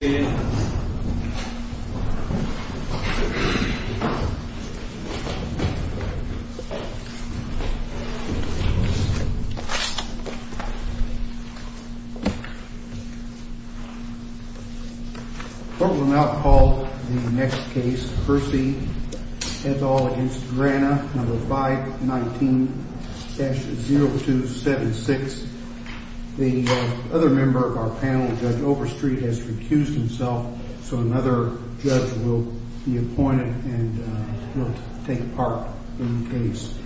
519-0276. The other member of our panel, Judge Overstreet, has accused himself, so another judge will be appointed and will take part in the case.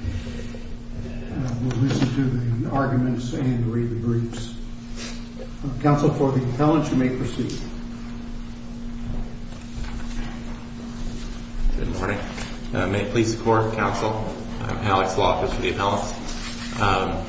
We'll listen to the arguments and read the briefs. Counsel for the appellants, you may proceed. Good morning. May it please the Court, Counsel. I'm Alex Law, just for the appellants.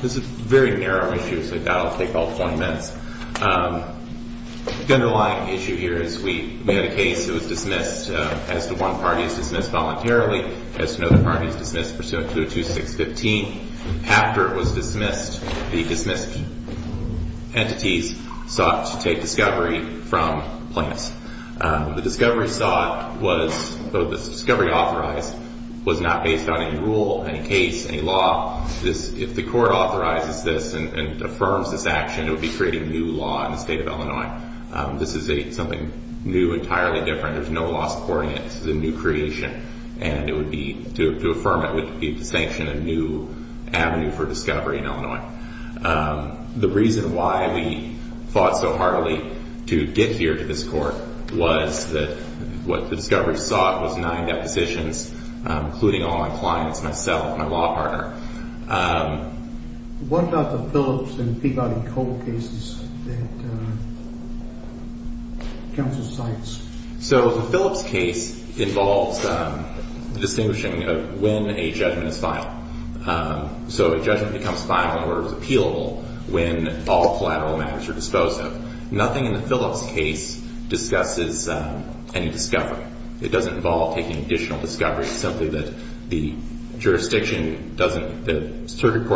This is a very narrow issue, so that'll take all 20 minutes. The underlying issue here is we have a case that was dismissed, as to one party is dismissed voluntarily, as to another party is dismissed pursuant to the 2615. After it was dismissed, the dismissed entities sought to take discovery from plaintiffs. The discovery sought was, the discovery authorized, was not based on any rule, any case, any law. If the Court authorizes this and affirms this action, it would be creating new law in the state of Illinois. This is something new, entirely different. There's no law supporting it. This is a new creation, and to affirm it would be to sanction a new avenue for discovery in Illinois. The reason why we fought so heartily to get here to this Court was that what the discovery sought was nine depositions, including all my clients, myself, my law partner. What about the Phillips and Peabody-Cole cases that counsel cites? So the Phillips case involves the distinguishing of when a judgment is final. So a judgment becomes final in order to be appealable when all collateral matters are disposed of. Nothing in the Phillips case discusses any discovery. It doesn't involve taking additional discovery. It's simply that the jurisdiction doesn't – the circuit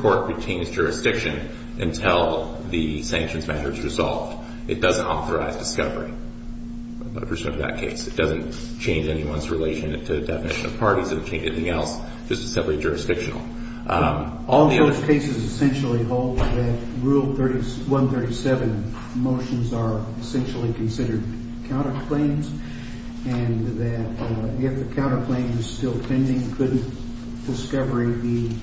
court retains jurisdiction until the sanctions matter is resolved. It doesn't authorize discovery from the perspective of that case. It doesn't change anyone's relation to the definition of parties. It doesn't change anything else. It's just simply jurisdictional. All those cases essentially hold that Rule 137 motions are essentially considered counterclaims and that if the counterclaim is still pending, couldn't discovery be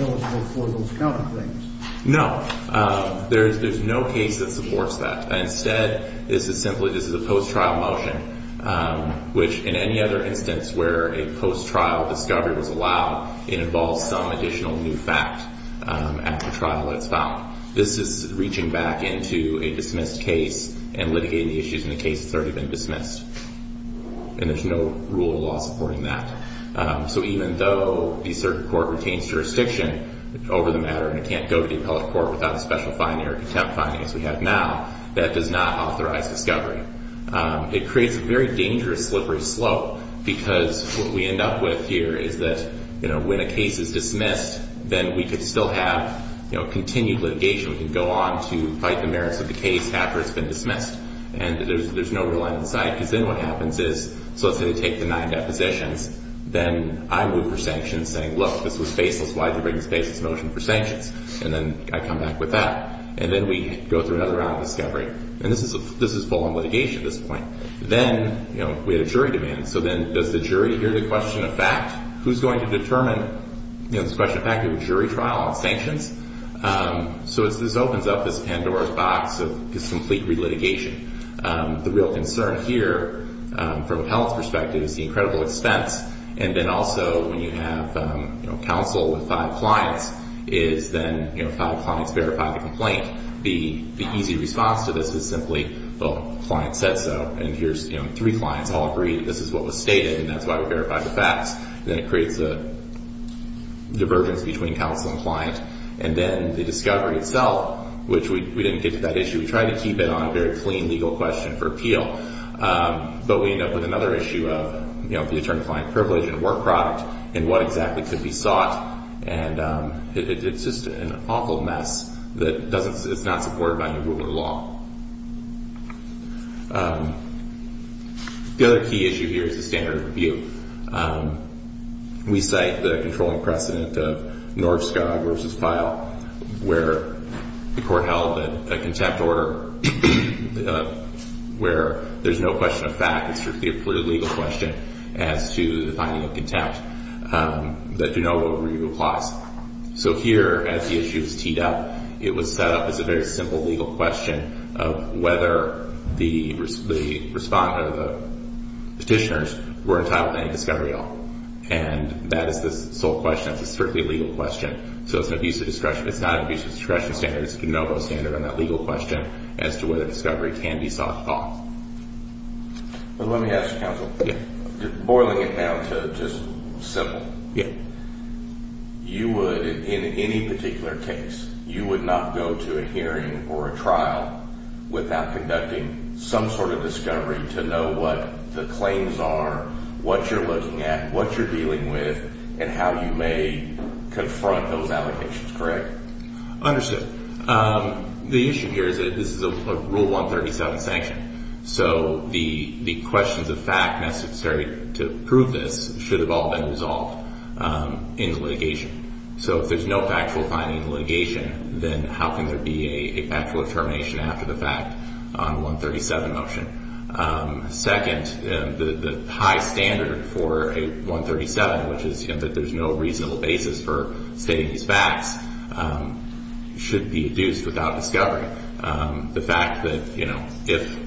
eligible for those counterclaims? No. There's no case that supports that. Instead, this is simply – this is a post-trial motion, which in any other instance where a post-trial discovery was allowed, it involves some additional new fact after trial that's found. This is reaching back into a dismissed case and litigating the issues in the case that's already been dismissed. And there's no rule of law supporting that. So even though the circuit court retains jurisdiction over the matter and it can't go to the appellate court without a special finding or contempt finding as we have now, that does not authorize discovery. It creates a very dangerous slippery slope because what we end up with here is that when a case is dismissed, then we could still have continued litigation. We could go on to fight the merits of the case after it's been dismissed. And there's no real end in sight because then what happens is – so let's say they take the nine depositions. Then I move for sanctions saying, look, this was faceless. Why did they bring a faceless motion for sanctions? And then I come back with that. And then we go through another round of discovery. And this is full on litigation at this point. Then, you know, we had a jury demand. So then does the jury hear the question of fact? Who's going to determine, you know, this question of fact of a jury trial on sanctions? So this opens up this Pandora's box of just complete relitigation. The real concern here from appellant's perspective is the incredible expense. And then also when you have, you know, counsel with five clients is then, you know, five clients verify the complaint. The easy response to this is simply, well, client said so. And here's, you know, three clients all agree that this is what was stated and that's why we verified the facts. Then it creates a divergence between counsel and client. And then the discovery itself, which we didn't get to that issue. We tried to keep it on a very clean legal question for appeal. But we end up with another issue of, you know, the attorney-client privilege and work product and what exactly could be sought. And it's just an awful mess that doesn't – it's not supported by new rule of law. The other key issue here is the standard of review. We cite the controlling precedent of Norskog v. Pyle where the court held a contempt order where there's no question of fact. It's strictly a legal question as to the finding of contempt that do not go over legal clause. So here as the issue is teed up, it was set up as a very simple legal question. Of whether the respondent or the petitioners were entitled to any discovery at all. And that is the sole question. It's a strictly legal question. So it's an abuse of discretion. It's not an abuse of discretion standard. It's a de novo standard on that legal question as to whether discovery can be sought at all. Let me ask you, counsel. Boiling it down to just simple. Yeah. You would, in any particular case, you would not go to a hearing or a trial without conducting some sort of discovery to know what the claims are. What you're looking at. What you're dealing with. And how you may confront those allegations. Correct? Understood. The issue here is that this is a Rule 137 sanction. So the questions of fact necessary to prove this should have all been resolved in litigation. So if there's no factual finding in litigation, then how can there be a factual determination after the fact on a 137 motion? Second, the high standard for a 137, which is that there's no reasonable basis for stating these facts, should be induced without discovery. The fact that if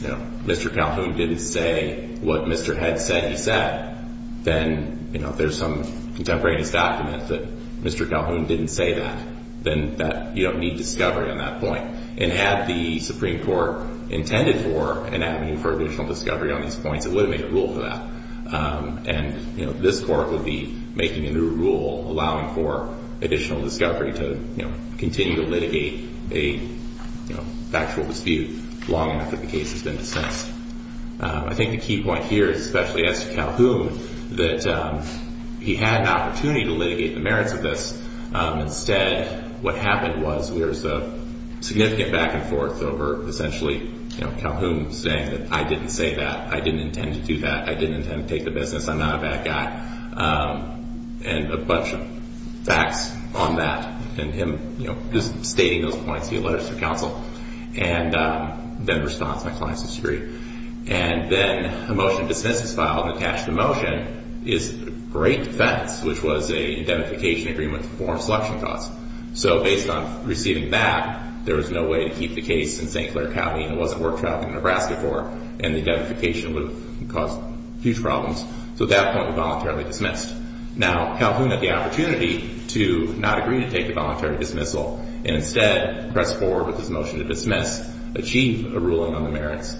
Mr. Calhoun didn't say what Mr. Head said he said, then if there's some contemporaneous document that Mr. Calhoun didn't say that, then you don't need discovery on that point. And had the Supreme Court intended for an avenue for additional discovery on these points, it would have made a rule for that. And this Court would be making a new rule allowing for additional discovery to continue to litigate a factual dispute long enough that the case has been dissensed. I think the key point here, especially as to Calhoun, that he had an opportunity to litigate the merits of this. Instead, what happened was there's a significant back and forth over essentially Calhoun saying that I didn't say that, I didn't intend to do that, I didn't intend to take the business, I'm not a bad guy. And a bunch of facts on that, and him just stating those points, he alleged to counsel, and then responds to my client's dispute. And then a motion to dismiss is filed and attached to the motion is a great defense, which was a indemnification agreement to perform selection costs. So based on receiving that, there was no way to keep the case in St. Clair County and it wasn't worth traveling to Nebraska for, and the indemnification would have caused huge problems. So at that point, we voluntarily dismissed. Now, Calhoun had the opportunity to not agree to take the voluntary dismissal and instead press forward with his motion to dismiss, achieve a ruling on the merits,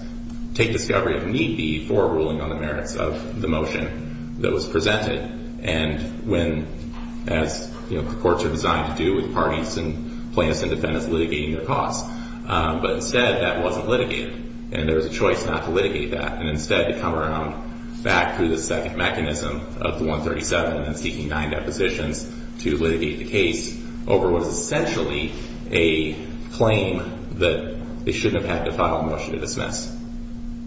take discovery if need be for a ruling on the merits of the motion that was presented, and when, as the courts are designed to do with parties and plaintiffs and defendants litigating their costs. But instead, that wasn't litigated, and there was a choice not to litigate that, and instead to come around back through the second mechanism of the 137 and seeking nine depositions to litigate the case over what is essentially a claim that they shouldn't have had to file a motion to dismiss.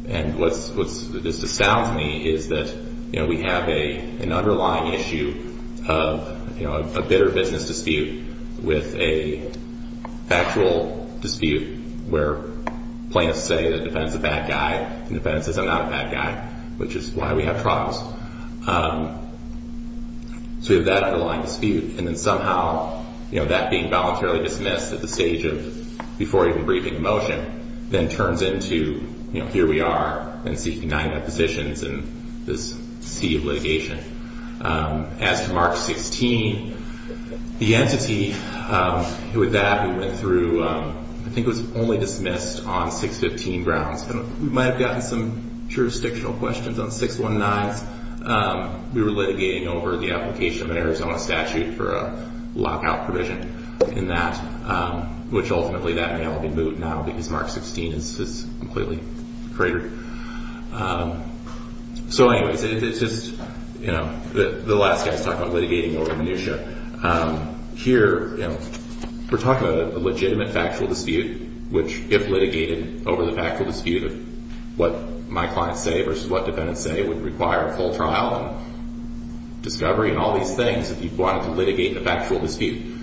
And what just astounds me is that we have an underlying issue of a bitter business dispute with a factual dispute where plaintiffs say the defendant's a bad guy, and the defendant says, I'm not a bad guy, which is why we have trials. So we have that underlying dispute, and then somehow, you know, that being voluntarily dismissed at the stage of before even briefing a motion, then turns into, you know, here we are and seeking nine depositions in this sea of litigation. As to Mark 16, the entity with that who went through, I think it was only dismissed on 615 grounds, and we might have gotten some jurisdictional questions on 619s. We were litigating over the application of an Arizona statute for a lockout provision in that, which ultimately that may all be moved now because Mark 16 is completely cratered. So anyways, it's just, you know, the last guy's talking about litigating over minutia. Here, you know, we're talking about a legitimate factual dispute, which if litigated over the factual dispute of what my clients say versus what defendants say would require a full trial and discovery and all these things if you wanted to litigate a factual dispute.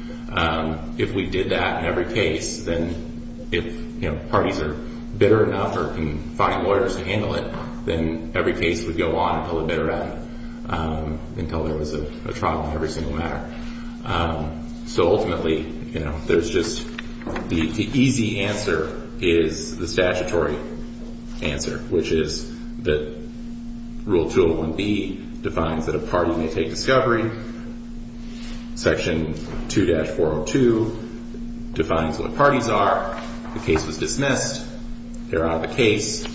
If we did that in every case, then if, you know, parties are bitter enough or can find lawyers to handle it, then every case would go on until they're better at it, until there was a trial in every single matter. So ultimately, you know, there's just the easy answer is the statutory answer, which is that Rule 201B defines that a party may take discovery. Section 2-402 defines what parties are. The case was dismissed. They're out of the case.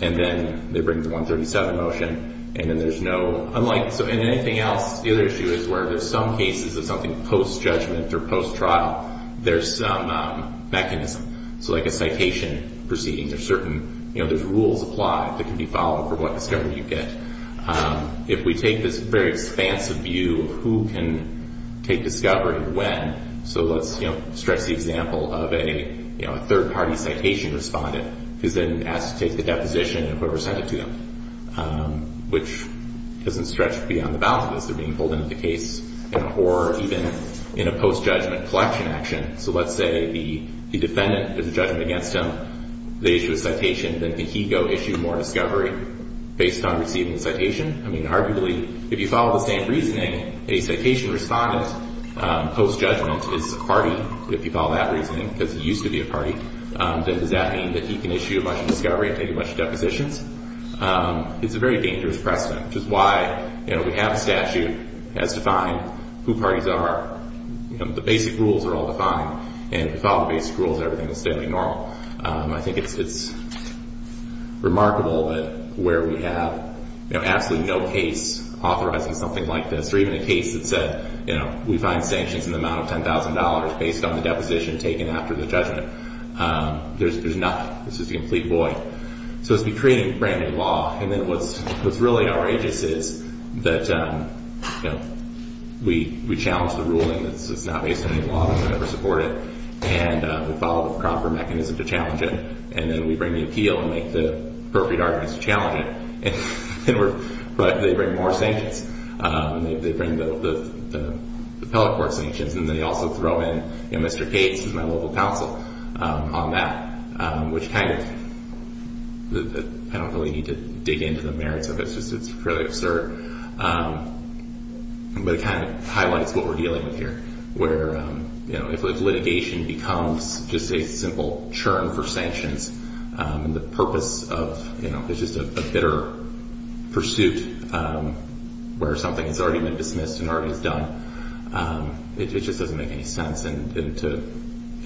And then they bring the 137 motion. And then there's no—unlike—so in anything else, the other issue is where there's some cases of something post-judgment or post-trial, there's some mechanism. So like a citation proceeding, there's certain, you know, there's rules applied that can be followed for what discovery you get. If we take this very expansive view of who can take discovery and when, so let's, you know, stretch the example of a, you know, a third-party citation respondent who's then asked to take the deposition of whoever sent it to them, which doesn't stretch beyond the bounds unless they're being pulled into the case or even in a post-judgment collection action. So let's say the defendant is in judgment against him. They issue a citation. Then can he go issue more discovery based on receiving the citation? I mean, arguably, if you follow the same reasoning, a citation respondent post-judgment is a party, if you follow that reasoning, because he used to be a party. Does that mean that he can issue a bunch of discovery and take a bunch of depositions? It's a very dangerous precedent, which is why, you know, we have a statute. It has defined who parties are. You know, the basic rules are all defined. And if you follow the basic rules, everything is fairly normal. I think it's remarkable that where we have, you know, absolutely no case authorizing something like this or even a case that said, you know, we find sanctions in the amount of $10,000 based on the deposition taken after the judgment. There's nothing. This is a complete void. So it's creating brand-new law. And then what's really outrageous is that, you know, we challenge the ruling. It's not based on any law. We don't support it. And we follow the proper mechanism to challenge it. And then we bring the appeal and make the appropriate arguments to challenge it. But they bring more sanctions. They bring the appellate court sanctions. And then they also throw in, you know, Mr. Cates, who's my local counsel, on that, which kind of I don't really need to dig into the merits of it. It's just fairly absurd. But it kind of highlights what we're dealing with here, where, you know, if litigation becomes just a simple churn for sanctions and the purpose of, you know, it's just a bitter pursuit where something has already been dismissed and already is done, it just doesn't make any sense. And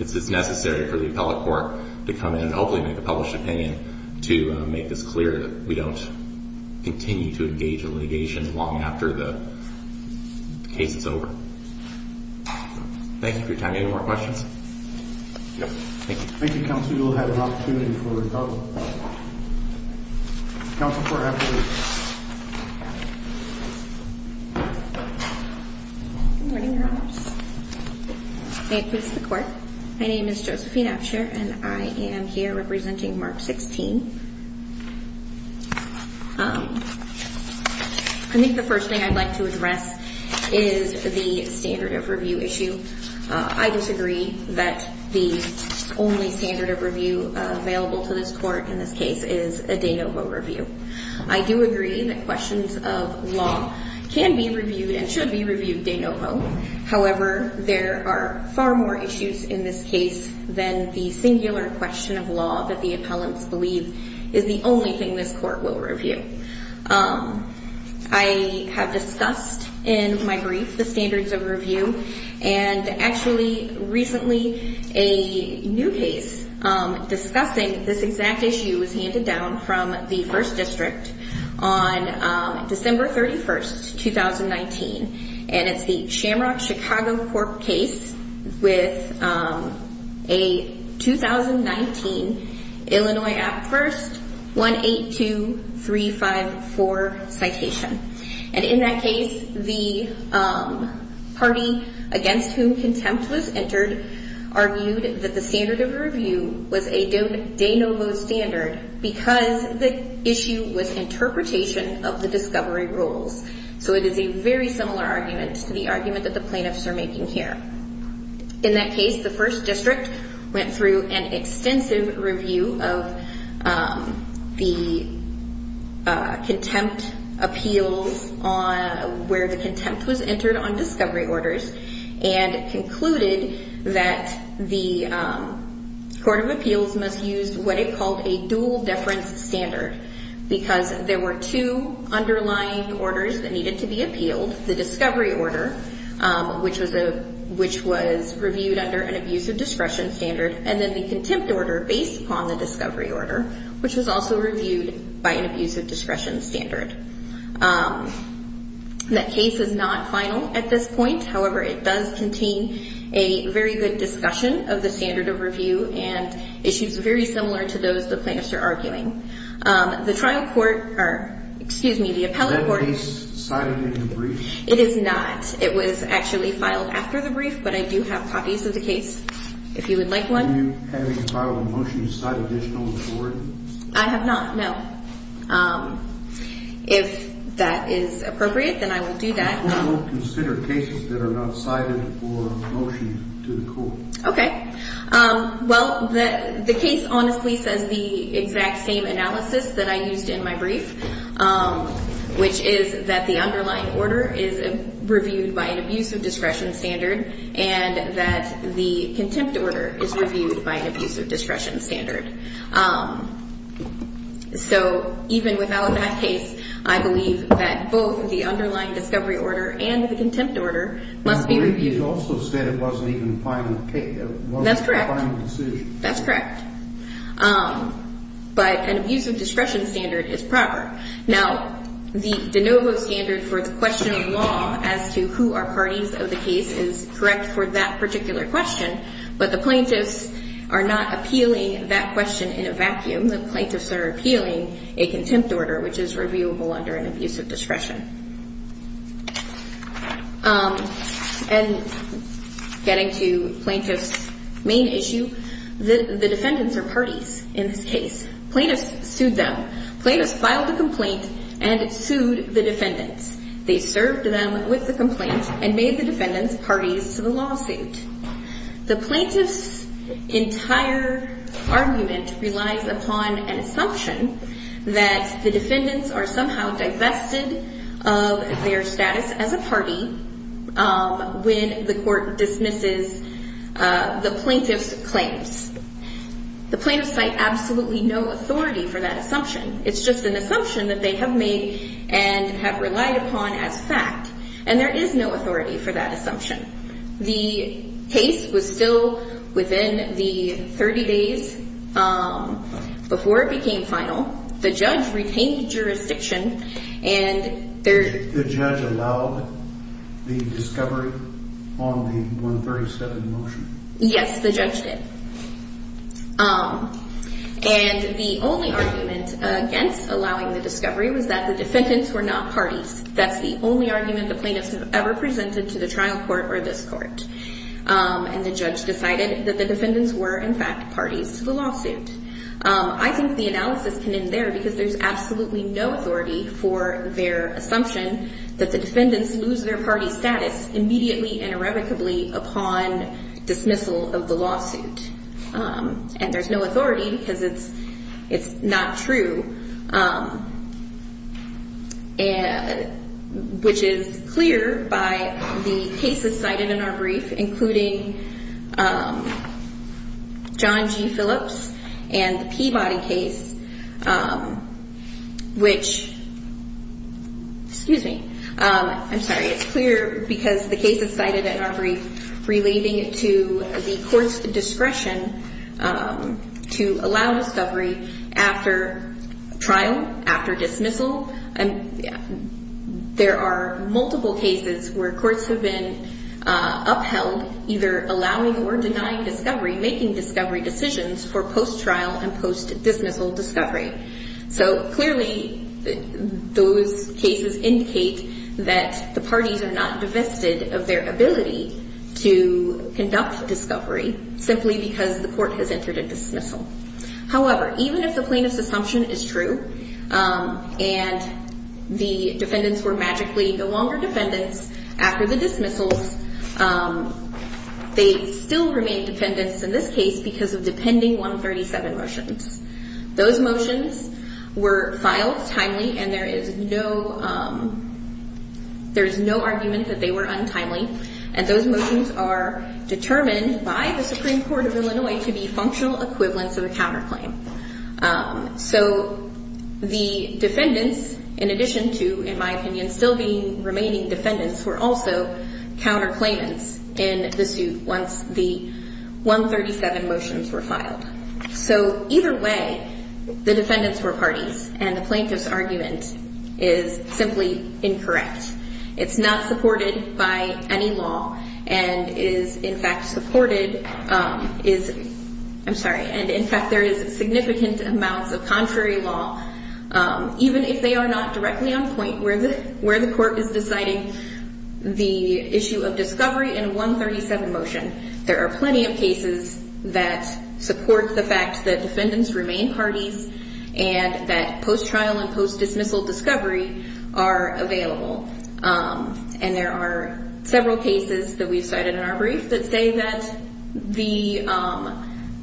it's necessary for the appellate court to come in and hopefully make a published opinion to make this clear that we don't continue to engage in litigation long after the case is over. Thank you for your time. Any more questions? Thank you. Thank you, counsel. You'll have an opportunity for rebuttal. Counsel for appellate. Good morning, Your Honors. May it please the Court. My name is Josephine Absher, and I am here representing Mark 16. I think the first thing I'd like to address is the standard of review issue. I disagree that the only standard of review available to this Court in this case is a de novo review. I do agree that questions of law can be reviewed and should be reviewed de novo. However, there are far more issues in this case than the singular question of law that the appellants believe is the only thing this Court will review. I have discussed in my brief the standards of review, and actually recently a new case discussing this exact issue was handed down from the First District on December 31, 2019, and it's the Shamrock Chicago Court case with a 2019 Illinois Act First 182354 citation. And in that case, the party against whom contempt was entered argued that the standard of review was a de novo standard because the issue was interpretation of the discovery rules. So it is a very similar argument to the argument that the plaintiffs are making here. In that case, the First District went through an extensive review of the contempt appeals on where the contempt was entered on discovery orders and concluded that the Court of Appeals must use what it called a dual deference standard because there were two underlying orders that needed to be appealed, the discovery order, which was reviewed under an abuse of discretion standard, and then the contempt order based upon the discovery order, which was also reviewed by an abuse of discretion standard. That case is not final at this point. However, it does contain a very good discussion of the standard of review and issues very similar to those the plaintiffs are arguing. The trial court, or excuse me, the appellate court. Is that case cited in the brief? It is not. It was actually filed after the brief, but I do have copies of the case if you would like one. Have you filed a motion to cite additional authority? I have not, no. If that is appropriate, then I will do that. Who will consider cases that are not cited for a motion to the court? Okay. Well, the case honestly says the exact same analysis that I used in my brief, which is that the underlying order is reviewed by an abuse of discretion standard and that the contempt order is reviewed by an abuse of discretion standard. So even without that case, I believe that both the underlying discovery order and the contempt order must be reviewed. But maybe it also said it wasn't even a final case. That's correct. It wasn't a final decision. That's correct. But an abuse of discretion standard is proper. Now, the de novo standard for the question of law as to who are parties of the case is correct for that particular question, but the plaintiffs are not appealing that question in a vacuum. The plaintiffs are appealing a contempt order, which is reviewable under an abuse of discretion. And getting to plaintiff's main issue, the defendants are parties in this case. Plaintiffs sued them. Plaintiffs filed a complaint and sued the defendants. They served them with the complaint and made the defendants parties to the lawsuit. The plaintiff's entire argument relies upon an assumption that the defendants are somehow divested of their status as a party when the court dismisses the plaintiff's claims. The plaintiffs cite absolutely no authority for that assumption. It's just an assumption that they have made and have relied upon as fact. And there is no authority for that assumption. The case was still within the 30 days before it became final. The judge retained jurisdiction. The judge allowed the discovery on the 137 motion? Yes, the judge did. And the only argument against allowing the discovery was that the defendants were not parties. That's the only argument the plaintiffs have ever presented to the trial court or this court. And the judge decided that the defendants were, in fact, parties to the lawsuit. I think the analysis can end there because there's absolutely no authority for their assumption that the defendants lose their party status immediately and irrevocably upon dismissal of the lawsuit. And there's no authority because it's not true. Which is clear by the cases cited in our brief, including John G. Phillips and the Peabody case, which is clear because the case is cited in our brief relating to the court's discretion to allow discovery after trial, after dismissal. There are multiple cases where courts have been upheld, either allowing or denying discovery, making discovery decisions for post-trial and post-dismissal discovery. So clearly those cases indicate that the parties are not divested of their ability to conduct discovery simply because the court has entered a dismissal. However, even if the plaintiff's assumption is true and the defendants were magically no longer defendants after the dismissals, they still remain defendants in this case because of depending 137 motions. Those motions were filed timely and there is no argument that they were untimely. And those motions are determined by the Supreme Court of Illinois to be functional equivalents of a counterclaim. So the defendants, in addition to, in my opinion, still being remaining defendants, were also counterclaimants in the suit once the 137 motions were filed. So either way, the defendants were parties and the plaintiff's argument is simply incorrect. It's not supported by any law and is, in fact, supported is, I'm sorry, and in fact there is significant amounts of contrary law. Even if they are not directly on point where the court is deciding the issue of discovery in a 137 motion, there are plenty of cases that support the fact that defendants remain parties and that post-trial and post-dismissal discovery are available. And there are several cases that we've cited in our brief that say that the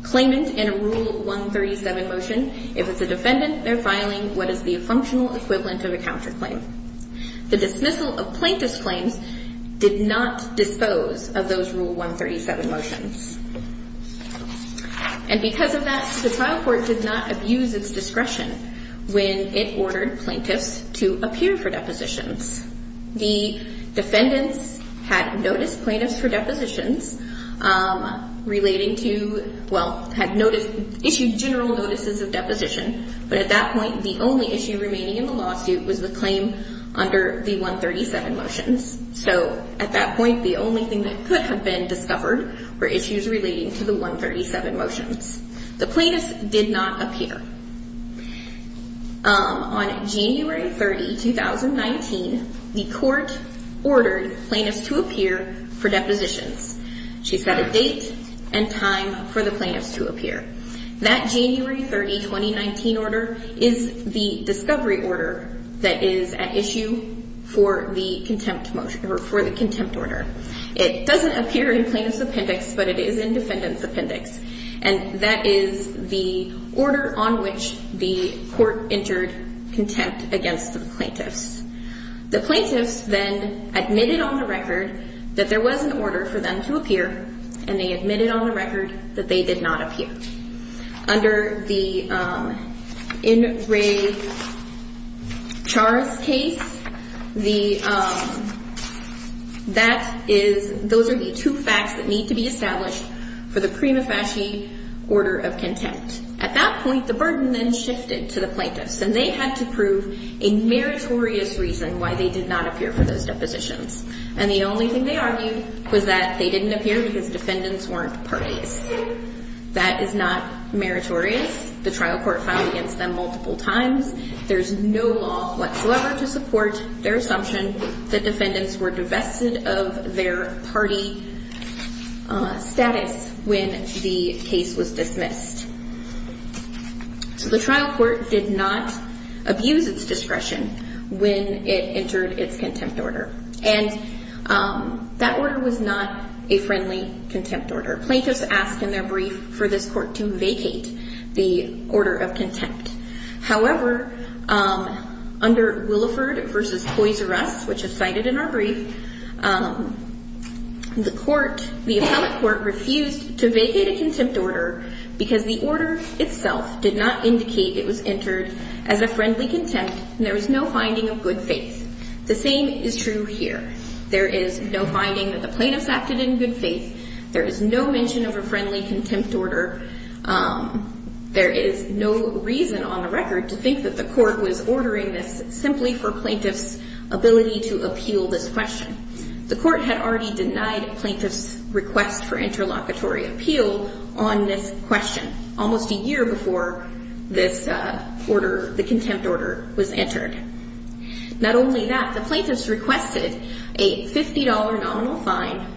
claimant in a Rule 137 motion, if it's a defendant, they're filing what is the functional equivalent of a counterclaim. The dismissal of plaintiff's claims did not dispose of those Rule 137 motions. And because of that, the trial court did not abuse its discretion when it ordered plaintiffs to appear for depositions. The defendants had noticed plaintiffs for depositions relating to, well, had issued general notices of deposition, but at that point, the only issue remaining in the lawsuit was the claim under the 137 motions. So at that point, the only thing that could have been discovered were issues relating to the 137 motions. The plaintiffs did not appear. On January 30, 2019, the court ordered plaintiffs to appear for depositions. She set a date and time for the plaintiffs to appear. That January 30, 2019 order is the discovery order that is at issue for the contempt order. It doesn't appear in plaintiff's appendix, but it is in defendant's appendix. And that is the order on which the court entered contempt against the plaintiffs. The plaintiffs then admitted on the record that there was an order for them to appear, and they admitted on the record that they did not appear. Under the In Re Chars case, those are the two facts that need to be established for the prima facie order of contempt. At that point, the burden then shifted to the plaintiffs, and they had to prove a meritorious reason why they did not appear for those depositions. And the only thing they argued was that they didn't appear because defendants weren't parties. That is not meritorious. The trial court filed against them multiple times. There's no law whatsoever to support their assumption that defendants were divested of their party status when the case was dismissed. So the trial court did not abuse its discretion when it entered its contempt order. And that order was not a friendly contempt order. Plaintiffs asked in their brief for this court to vacate the order of contempt. However, under Williford v. Poizares, which is cited in our brief, the court, the appellate court, refused to vacate a contempt order because the order itself did not indicate it was entered as a friendly contempt, and there was no finding of good faith. The same is true here. There is no finding that the plaintiffs acted in good faith. There is no mention of a friendly contempt order. There is no reason on the record to think that the court was ordering this simply for plaintiffs' ability to appeal this question. The court had already denied plaintiffs' request for interlocutory appeal on this question almost a year before this order, the contempt order, was entered. Not only that, the plaintiffs requested a $50 nominal fine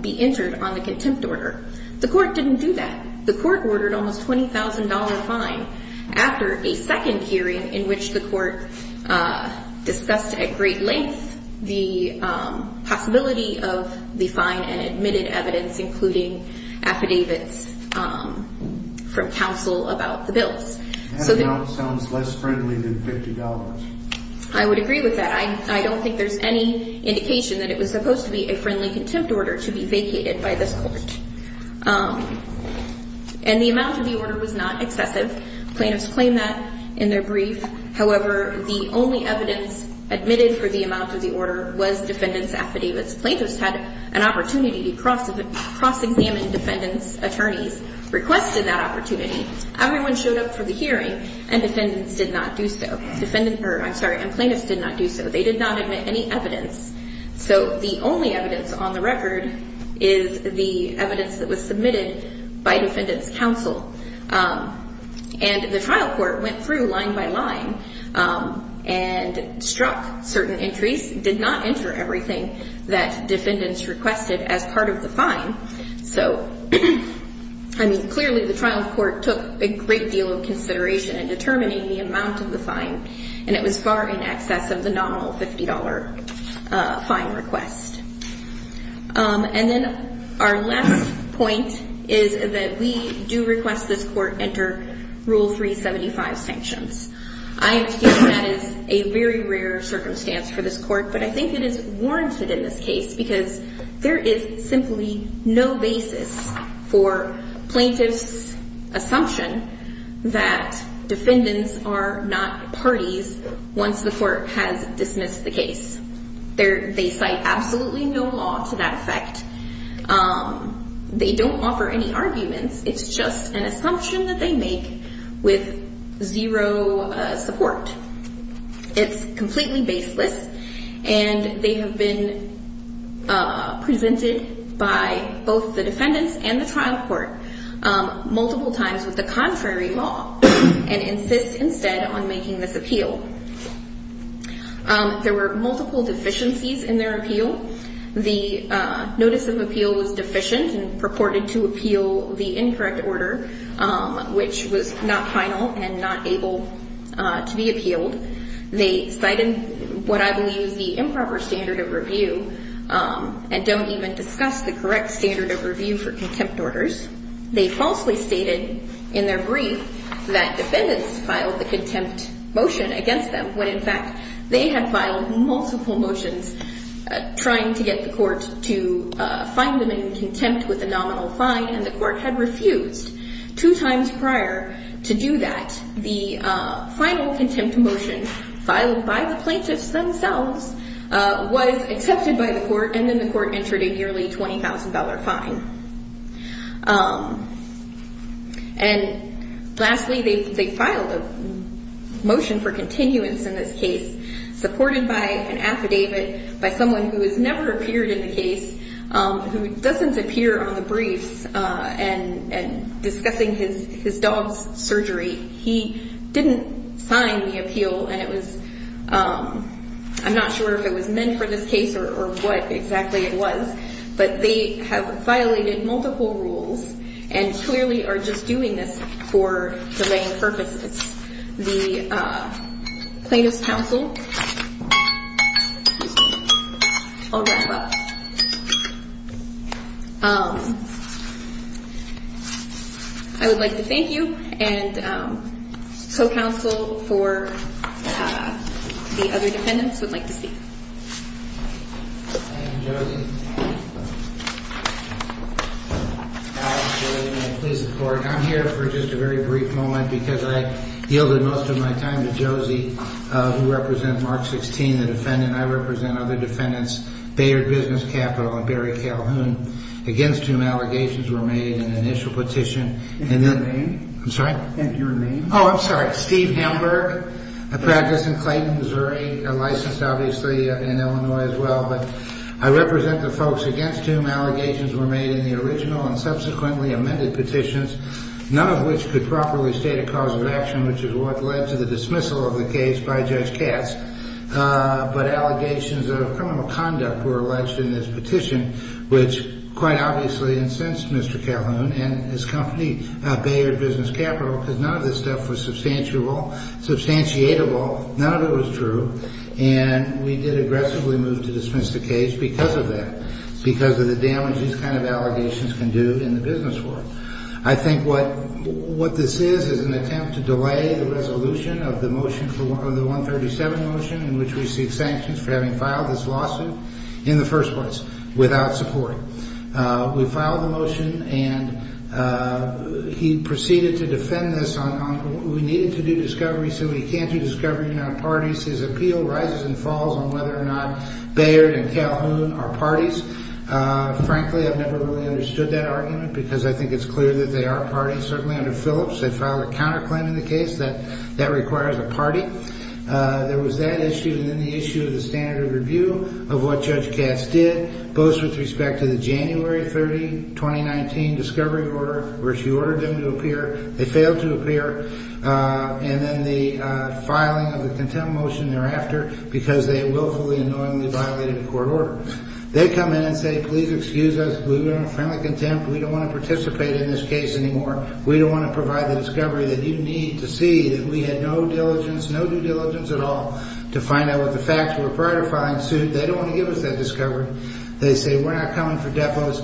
be entered on the contempt order. The court didn't do that. The court ordered almost a $20,000 fine after a second hearing in which the court discussed at great length the possibility of the fine and admitted evidence, including affidavits from counsel about the bills. That amount sounds less friendly than $50. I would agree with that. I don't think there's any indication that it was supposed to be a friendly contempt order to be vacated by this court. And the amount of the order was not excessive. Plaintiffs claimed that in their brief. However, the only evidence admitted for the amount of the order was defendants' affidavits. Plaintiffs had an opportunity to cross-examine defendants' attorneys, requested that opportunity. Everyone showed up for the hearing, and defendants did not do so. I'm sorry, and plaintiffs did not do so. They did not admit any evidence. So the only evidence on the record is the evidence that was submitted by defendants' counsel. And the trial court went through line by line and struck certain entries, did not enter everything that defendants requested as part of the fine. So, I mean, clearly the trial court took a great deal of consideration in determining the amount of the fine, and it was far in excess of the nominal $50 fine request. And then our last point is that we do request this court enter Rule 375 sanctions. I feel that is a very rare circumstance for this court, but I think it is warranted in this case because there is simply no basis for plaintiffs' assumption that defendants are not parties once the court has dismissed the case. They cite absolutely no law to that effect. They don't offer any arguments. It's just an assumption that they make with zero support. It's completely baseless, and they have been presented by both the defendants and the trial court multiple times with the contrary law and insist instead on making this appeal. There were multiple deficiencies in their appeal. The notice of appeal was deficient and purported to appeal the incorrect order, which was not final and not able to be appealed. They cited what I believe is the improper standard of review and don't even discuss the correct standard of review for contempt orders. They falsely stated in their brief that defendants filed the contempt motion against them when, in fact, they had filed multiple motions trying to get the court to find them in contempt with the nominal fine, and the court had refused two times prior to do that. The final contempt motion filed by the plaintiffs themselves was accepted by the court, and then the court entered a nearly $20,000 fine. And lastly, they filed a motion for continuance in this case supported by an affidavit by someone who has never appeared in the case, who doesn't appear on the briefs, and discussing his dog's surgery. He didn't sign the appeal, and I'm not sure if it was meant for this case or what exactly it was, but they have violated multiple rules and clearly are just doing this for delaying purposes. That's the plaintiff's counsel. I'll wrap up. I would like to thank you, and co-counsel for the other defendants would like to speak. Thank you, Josie. I'm here for just a very brief moment because I yielded most of my time to Josie, who represents Mark 16, the defendant. I represent other defendants. Bayard Business Capital and Barry Calhoun, against whom allegations were made in the initial petition. And your name? I'm sorry? And your name? Oh, I'm sorry. Steve Hamburg, a practice in Clayton, Missouri, licensed obviously in Illinois as well. But I represent the folks against whom allegations were made in the original and subsequently amended petitions, none of which could properly state a cause of action, which is what led to the dismissal of the case by Judge Katz. But allegations of criminal conduct were alleged in this petition, which quite obviously incensed Mr. Calhoun and his company, Bayard Business Capital, because none of this stuff was substantiable, none of it was true, and we did aggressively move to dismiss the case because of that, because of the damage these kind of allegations can do in the business world. I think what this is is an attempt to delay the resolution of the 137 motion, in which we seek sanctions for having filed this lawsuit in the first place without support. We filed the motion, and he proceeded to defend this on how we needed to do discovery so we can't do discovery without parties. His appeal rises and falls on whether or not Bayard and Calhoun are parties. Frankly, I've never really understood that argument because I think it's clear that they are parties. Certainly under Phillips, they filed a counterclaim in the case that that requires a party. There was that issue, and then the issue of the standard of review of what Judge Katz did, both with respect to the January 30, 2019, discovery order where she ordered them to appear. They failed to appear, and then the filing of the contempt motion thereafter because they willfully and knowingly violated a court order. They come in and say, please excuse us. We were in a friendly contempt. We don't want to participate in this case anymore. We don't want to provide the discovery that you need to see that we had no diligence, no due diligence at all, to find out what the facts were prior to filing the suit. They don't want to give us that discovery. They say we're not coming for depots.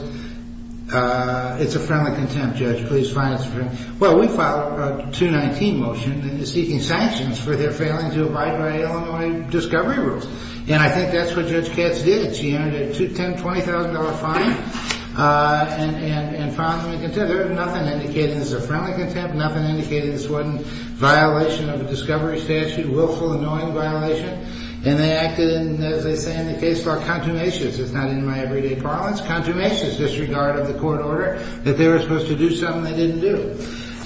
It's a friendly contempt, Judge. Please find us a friend. Well, we filed a 2019 motion seeking sanctions for their failing to abide by Illinois discovery rules, and I think that's what Judge Katz did. She entered a $10,000, $20,000 fine and filed them in contempt. There was nothing indicated as a friendly contempt. Nothing indicated this wasn't violation of a discovery statute, willful, annoying violation, and they acted in, as they say in the case law, contumacious. It's not in my everyday parlance. Contumacious disregard of the court order that they were supposed to do something they didn't do.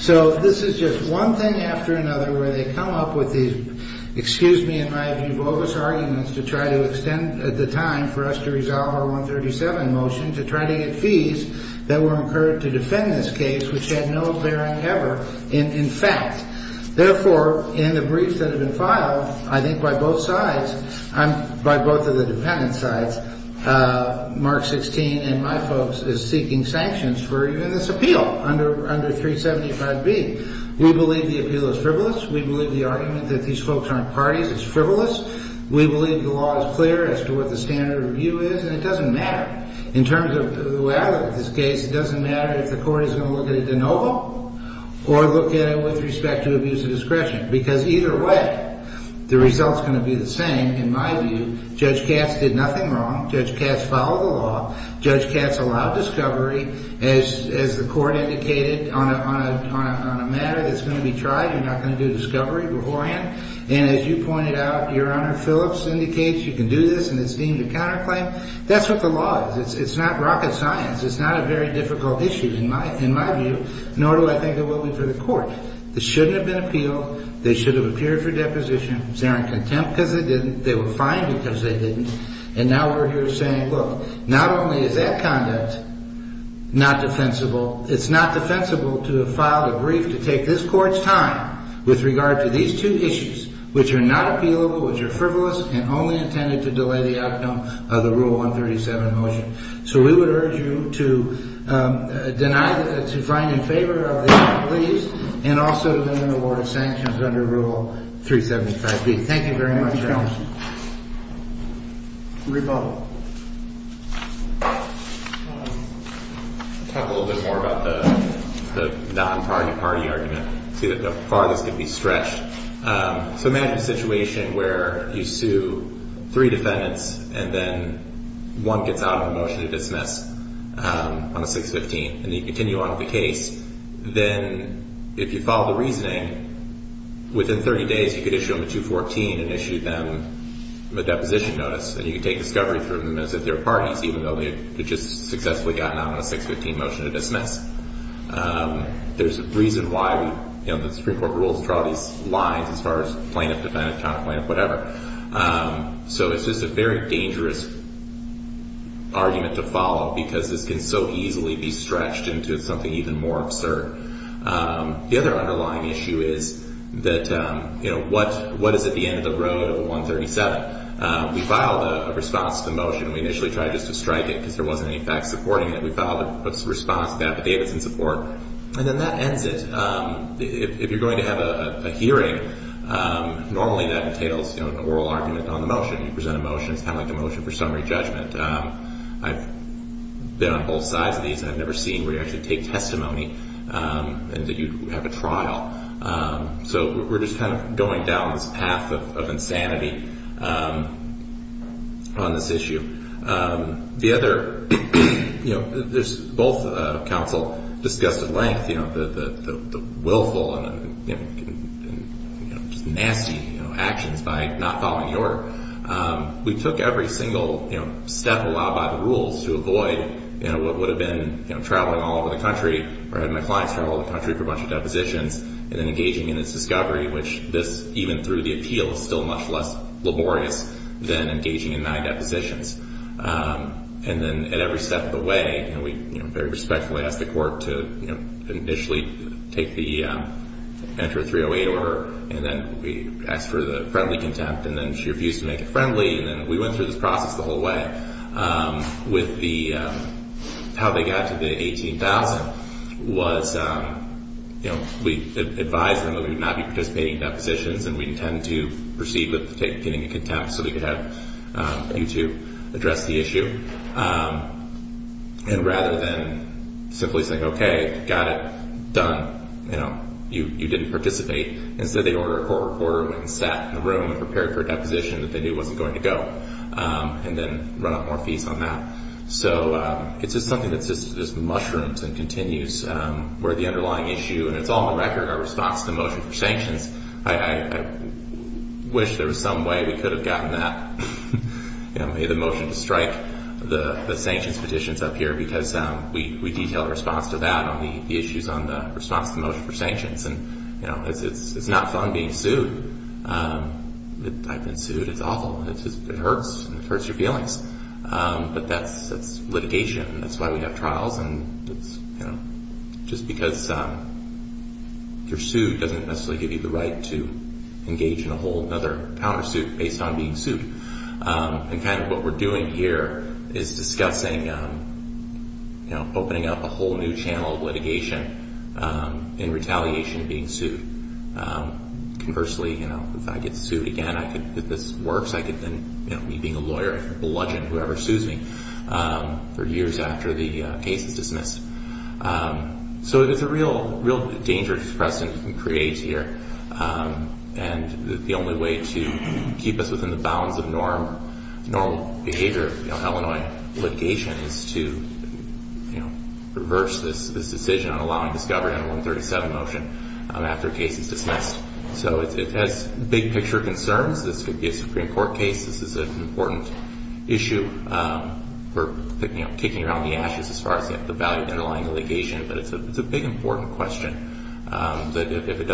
So this is just one thing after another where they come up with these, excuse me, in my view, bogus arguments to try to extend at the time for us to resolve our 137 motion to try to get fees that were incurred to defend this case, which had no bearing ever in fact. Therefore, in the briefs that have been filed, I think by both sides, by both of the dependent sides, Mark 16 and my folks is seeking sanctions for even this appeal under 375B. We believe the appeal is frivolous. We believe the argument that these folks aren't parties is frivolous. We believe the law is clear as to what the standard of review is, and it doesn't matter. In terms of the way I look at this case, it doesn't matter if the court is going to look at it de novo or look at it with respect to abuse of discretion, because either way, the result is going to be the same. In my view, Judge Katz did nothing wrong. Judge Katz followed the law. Judge Katz allowed discovery, as the court indicated, on a matter that's going to be tried. You're not going to do discovery beforehand. And as you pointed out, Your Honor, Phillips indicates you can do this, and it's deemed a counterclaim. That's what the law is. It's not rocket science. It's not a very difficult issue in my view, nor do I think it will be for the court. This shouldn't have been appealed. They should have appeared for deposition. They're in contempt because they didn't. They were fined because they didn't. And now we're here saying, look, not only is that conduct not defensible, it's not defensible to have filed a brief to take this court's time with regard to these two issues, which are not appealable, which are frivolous, and only intended to delay the outcome of the Rule 137 motion. So we would urge you to find in favor of the motion, please, and also to amend the Board of Sanctions under Rule 375B. Thank you very much, Your Honor. Rebuttal. I'll talk a little bit more about the non-party-party argument to see how far this can be stretched. So imagine a situation where you sue three defendants, and then one gets out of a motion to dismiss on a 6-15, and you continue on with the case. Then if you follow the reasoning, within 30 days you could issue them a 214 and issue them a deposition notice, and you could take discovery through the notice of their parties, even though they had just successfully gotten out on a 6-15 motion to dismiss. There's a reason why the Supreme Court rules draw these lines as far as plaintiff-defendant, counter-plaintiff, whatever. So it's just a very dangerous argument to follow because this can so easily be stretched into something even more absurd. The other underlying issue is that what is at the end of the road of a 137? We filed a response to the motion. We initially tried just to strike it because there wasn't any facts supporting it. We filed a response to that, but they didn't support it. And then that ends it. If you're going to have a hearing, normally that entails an oral argument on the motion. You present a motion. It's kind of like the motion for summary judgment. I've been on both sides of these, and I've never seen where you actually take testimony and that you have a trial. So we're just kind of going down this path of insanity on this issue. Both counsel discussed at length the willful and just nasty actions by not following the order. We took every single step allowed by the rules to avoid what would have been traveling all over the country or having my clients travel the country for a bunch of depositions and then engaging in this discovery, which this, even through the appeal, is still much less laborious than engaging in nigh depositions. And then at every step of the way, we very respectfully asked the court to initially enter a 308 order, and then we asked for the friendly contempt, and then she refused to make it friendly, and then we went through this process the whole way. How they got to the $18,000 was we advised them that we would not be participating in depositions, and we intend to proceed with getting a contempt so we could have you two address the issue. And rather than simply saying, okay, got it, done, you didn't participate, instead they ordered a court reporter and sat in the room and prepared for a deposition that they knew wasn't going to go and then run up more fees on that. So it's just something that just mushrooms and continues where the underlying issue, and it's all on the record, our response to the motion for sanctions. I wish there was some way we could have gotten that, the motion to strike the sanctions petitions up here because we detailed a response to that on the issues on the response to the motion for sanctions. And it's not fun being sued. I've been sued. It's awful. It hurts. It hurts your feelings. But that's litigation. That's why we have trials. And just because you're sued doesn't necessarily give you the right to engage in a whole other countersuit based on being sued. And kind of what we're doing here is discussing opening up a whole new channel of litigation in retaliation being sued. Conversely, if I get sued again, if this works, I could then be a lawyer and bludgeon whoever sues me for years after the case is dismissed. So there's a real danger to the precedent we can create here, and the only way to keep us within the bounds of normal behavior of Illinois litigation is to reverse this decision on allowing discovery on a 137 motion after a case is dismissed. So it has big picture concerns. This could be a Supreme Court case. This is an important issue for kicking around the ashes as far as the value of underlying litigation. But it's a big, important question that if it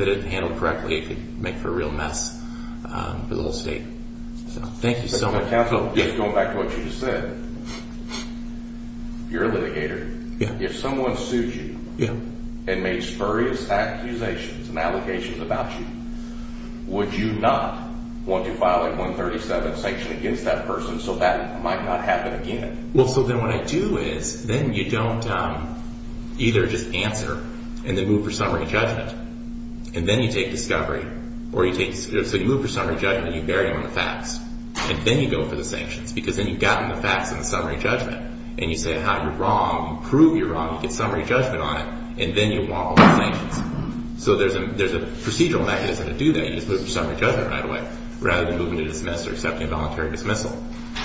isn't handled correctly, it could make for a real mess for the whole state. Thank you so much. Counsel, just going back to what you just said, you're a litigator. If someone sued you and made spurious accusations and allegations about you, would you not want to file a 137 sanction against that person so that might not happen again? Well, so then what I do is then you don't either just answer and then move for summary judgment. And then you take discovery. So you move for summary judgment and you vary on the facts. And then you go for the sanctions because then you've gotten the facts in the summary judgment. And you say how you're wrong, prove you're wrong. You get summary judgment on it. And then you want all the sanctions. So there's a procedural mechanism to do that. You just move for summary judgment right away rather than moving to dismiss or accepting voluntary dismissal.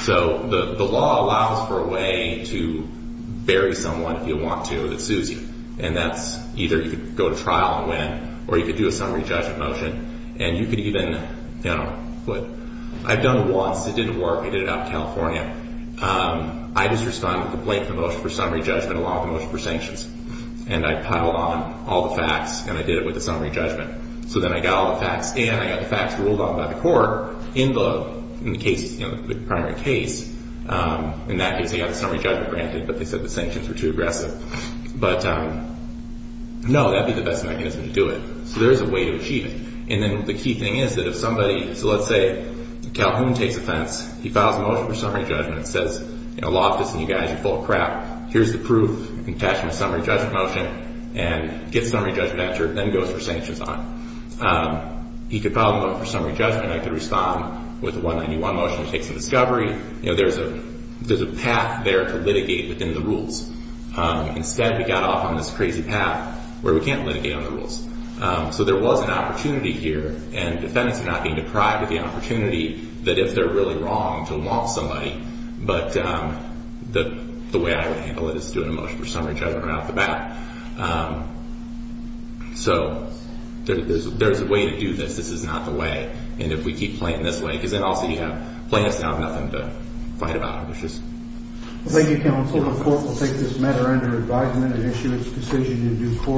So the law allows for a way to bury someone if you want to that sues you. And that's either you could go to trial and win or you could do a summary judgment motion. And you could even, you know, I've done it once. It didn't work. I did it out in California. I just responded with a complaint for motion for summary judgment along with a motion for sanctions. And I piled on all the facts and I did it with the summary judgment. So then I got all the facts and I got the facts ruled on by the court in the case, you know, the primary case. And that gives you the summary judgment granted. But they said the sanctions were too aggressive. But no, that would be the best mechanism to do it. So there is a way to achieve it. And then the key thing is that if somebody, so let's say Calhoun takes offense. He files a motion for summary judgment and says, you know, Loftus and you guys are full of crap. Here's the proof. You can attach them to a summary judgment motion and get summary judgment action. Then it goes for sanctions on it. He could file a motion for summary judgment. I could respond with a 191 motion that takes a discovery. You know, there's a path there to litigate within the rules. Instead, we got off on this crazy path where we can't litigate on the rules. So there was an opportunity here. And defendants are not being deprived of the opportunity that if they're really wrong to want somebody. But the way I would handle it is to do a motion for summary judgment right off the bat. So there's a way to do this. This is not the way. And if we keep playing this way, because then also you have plaintiffs that have nothing to fight about. Thank you, counsel. The court will take this matter under advisement and issue its decision in due course.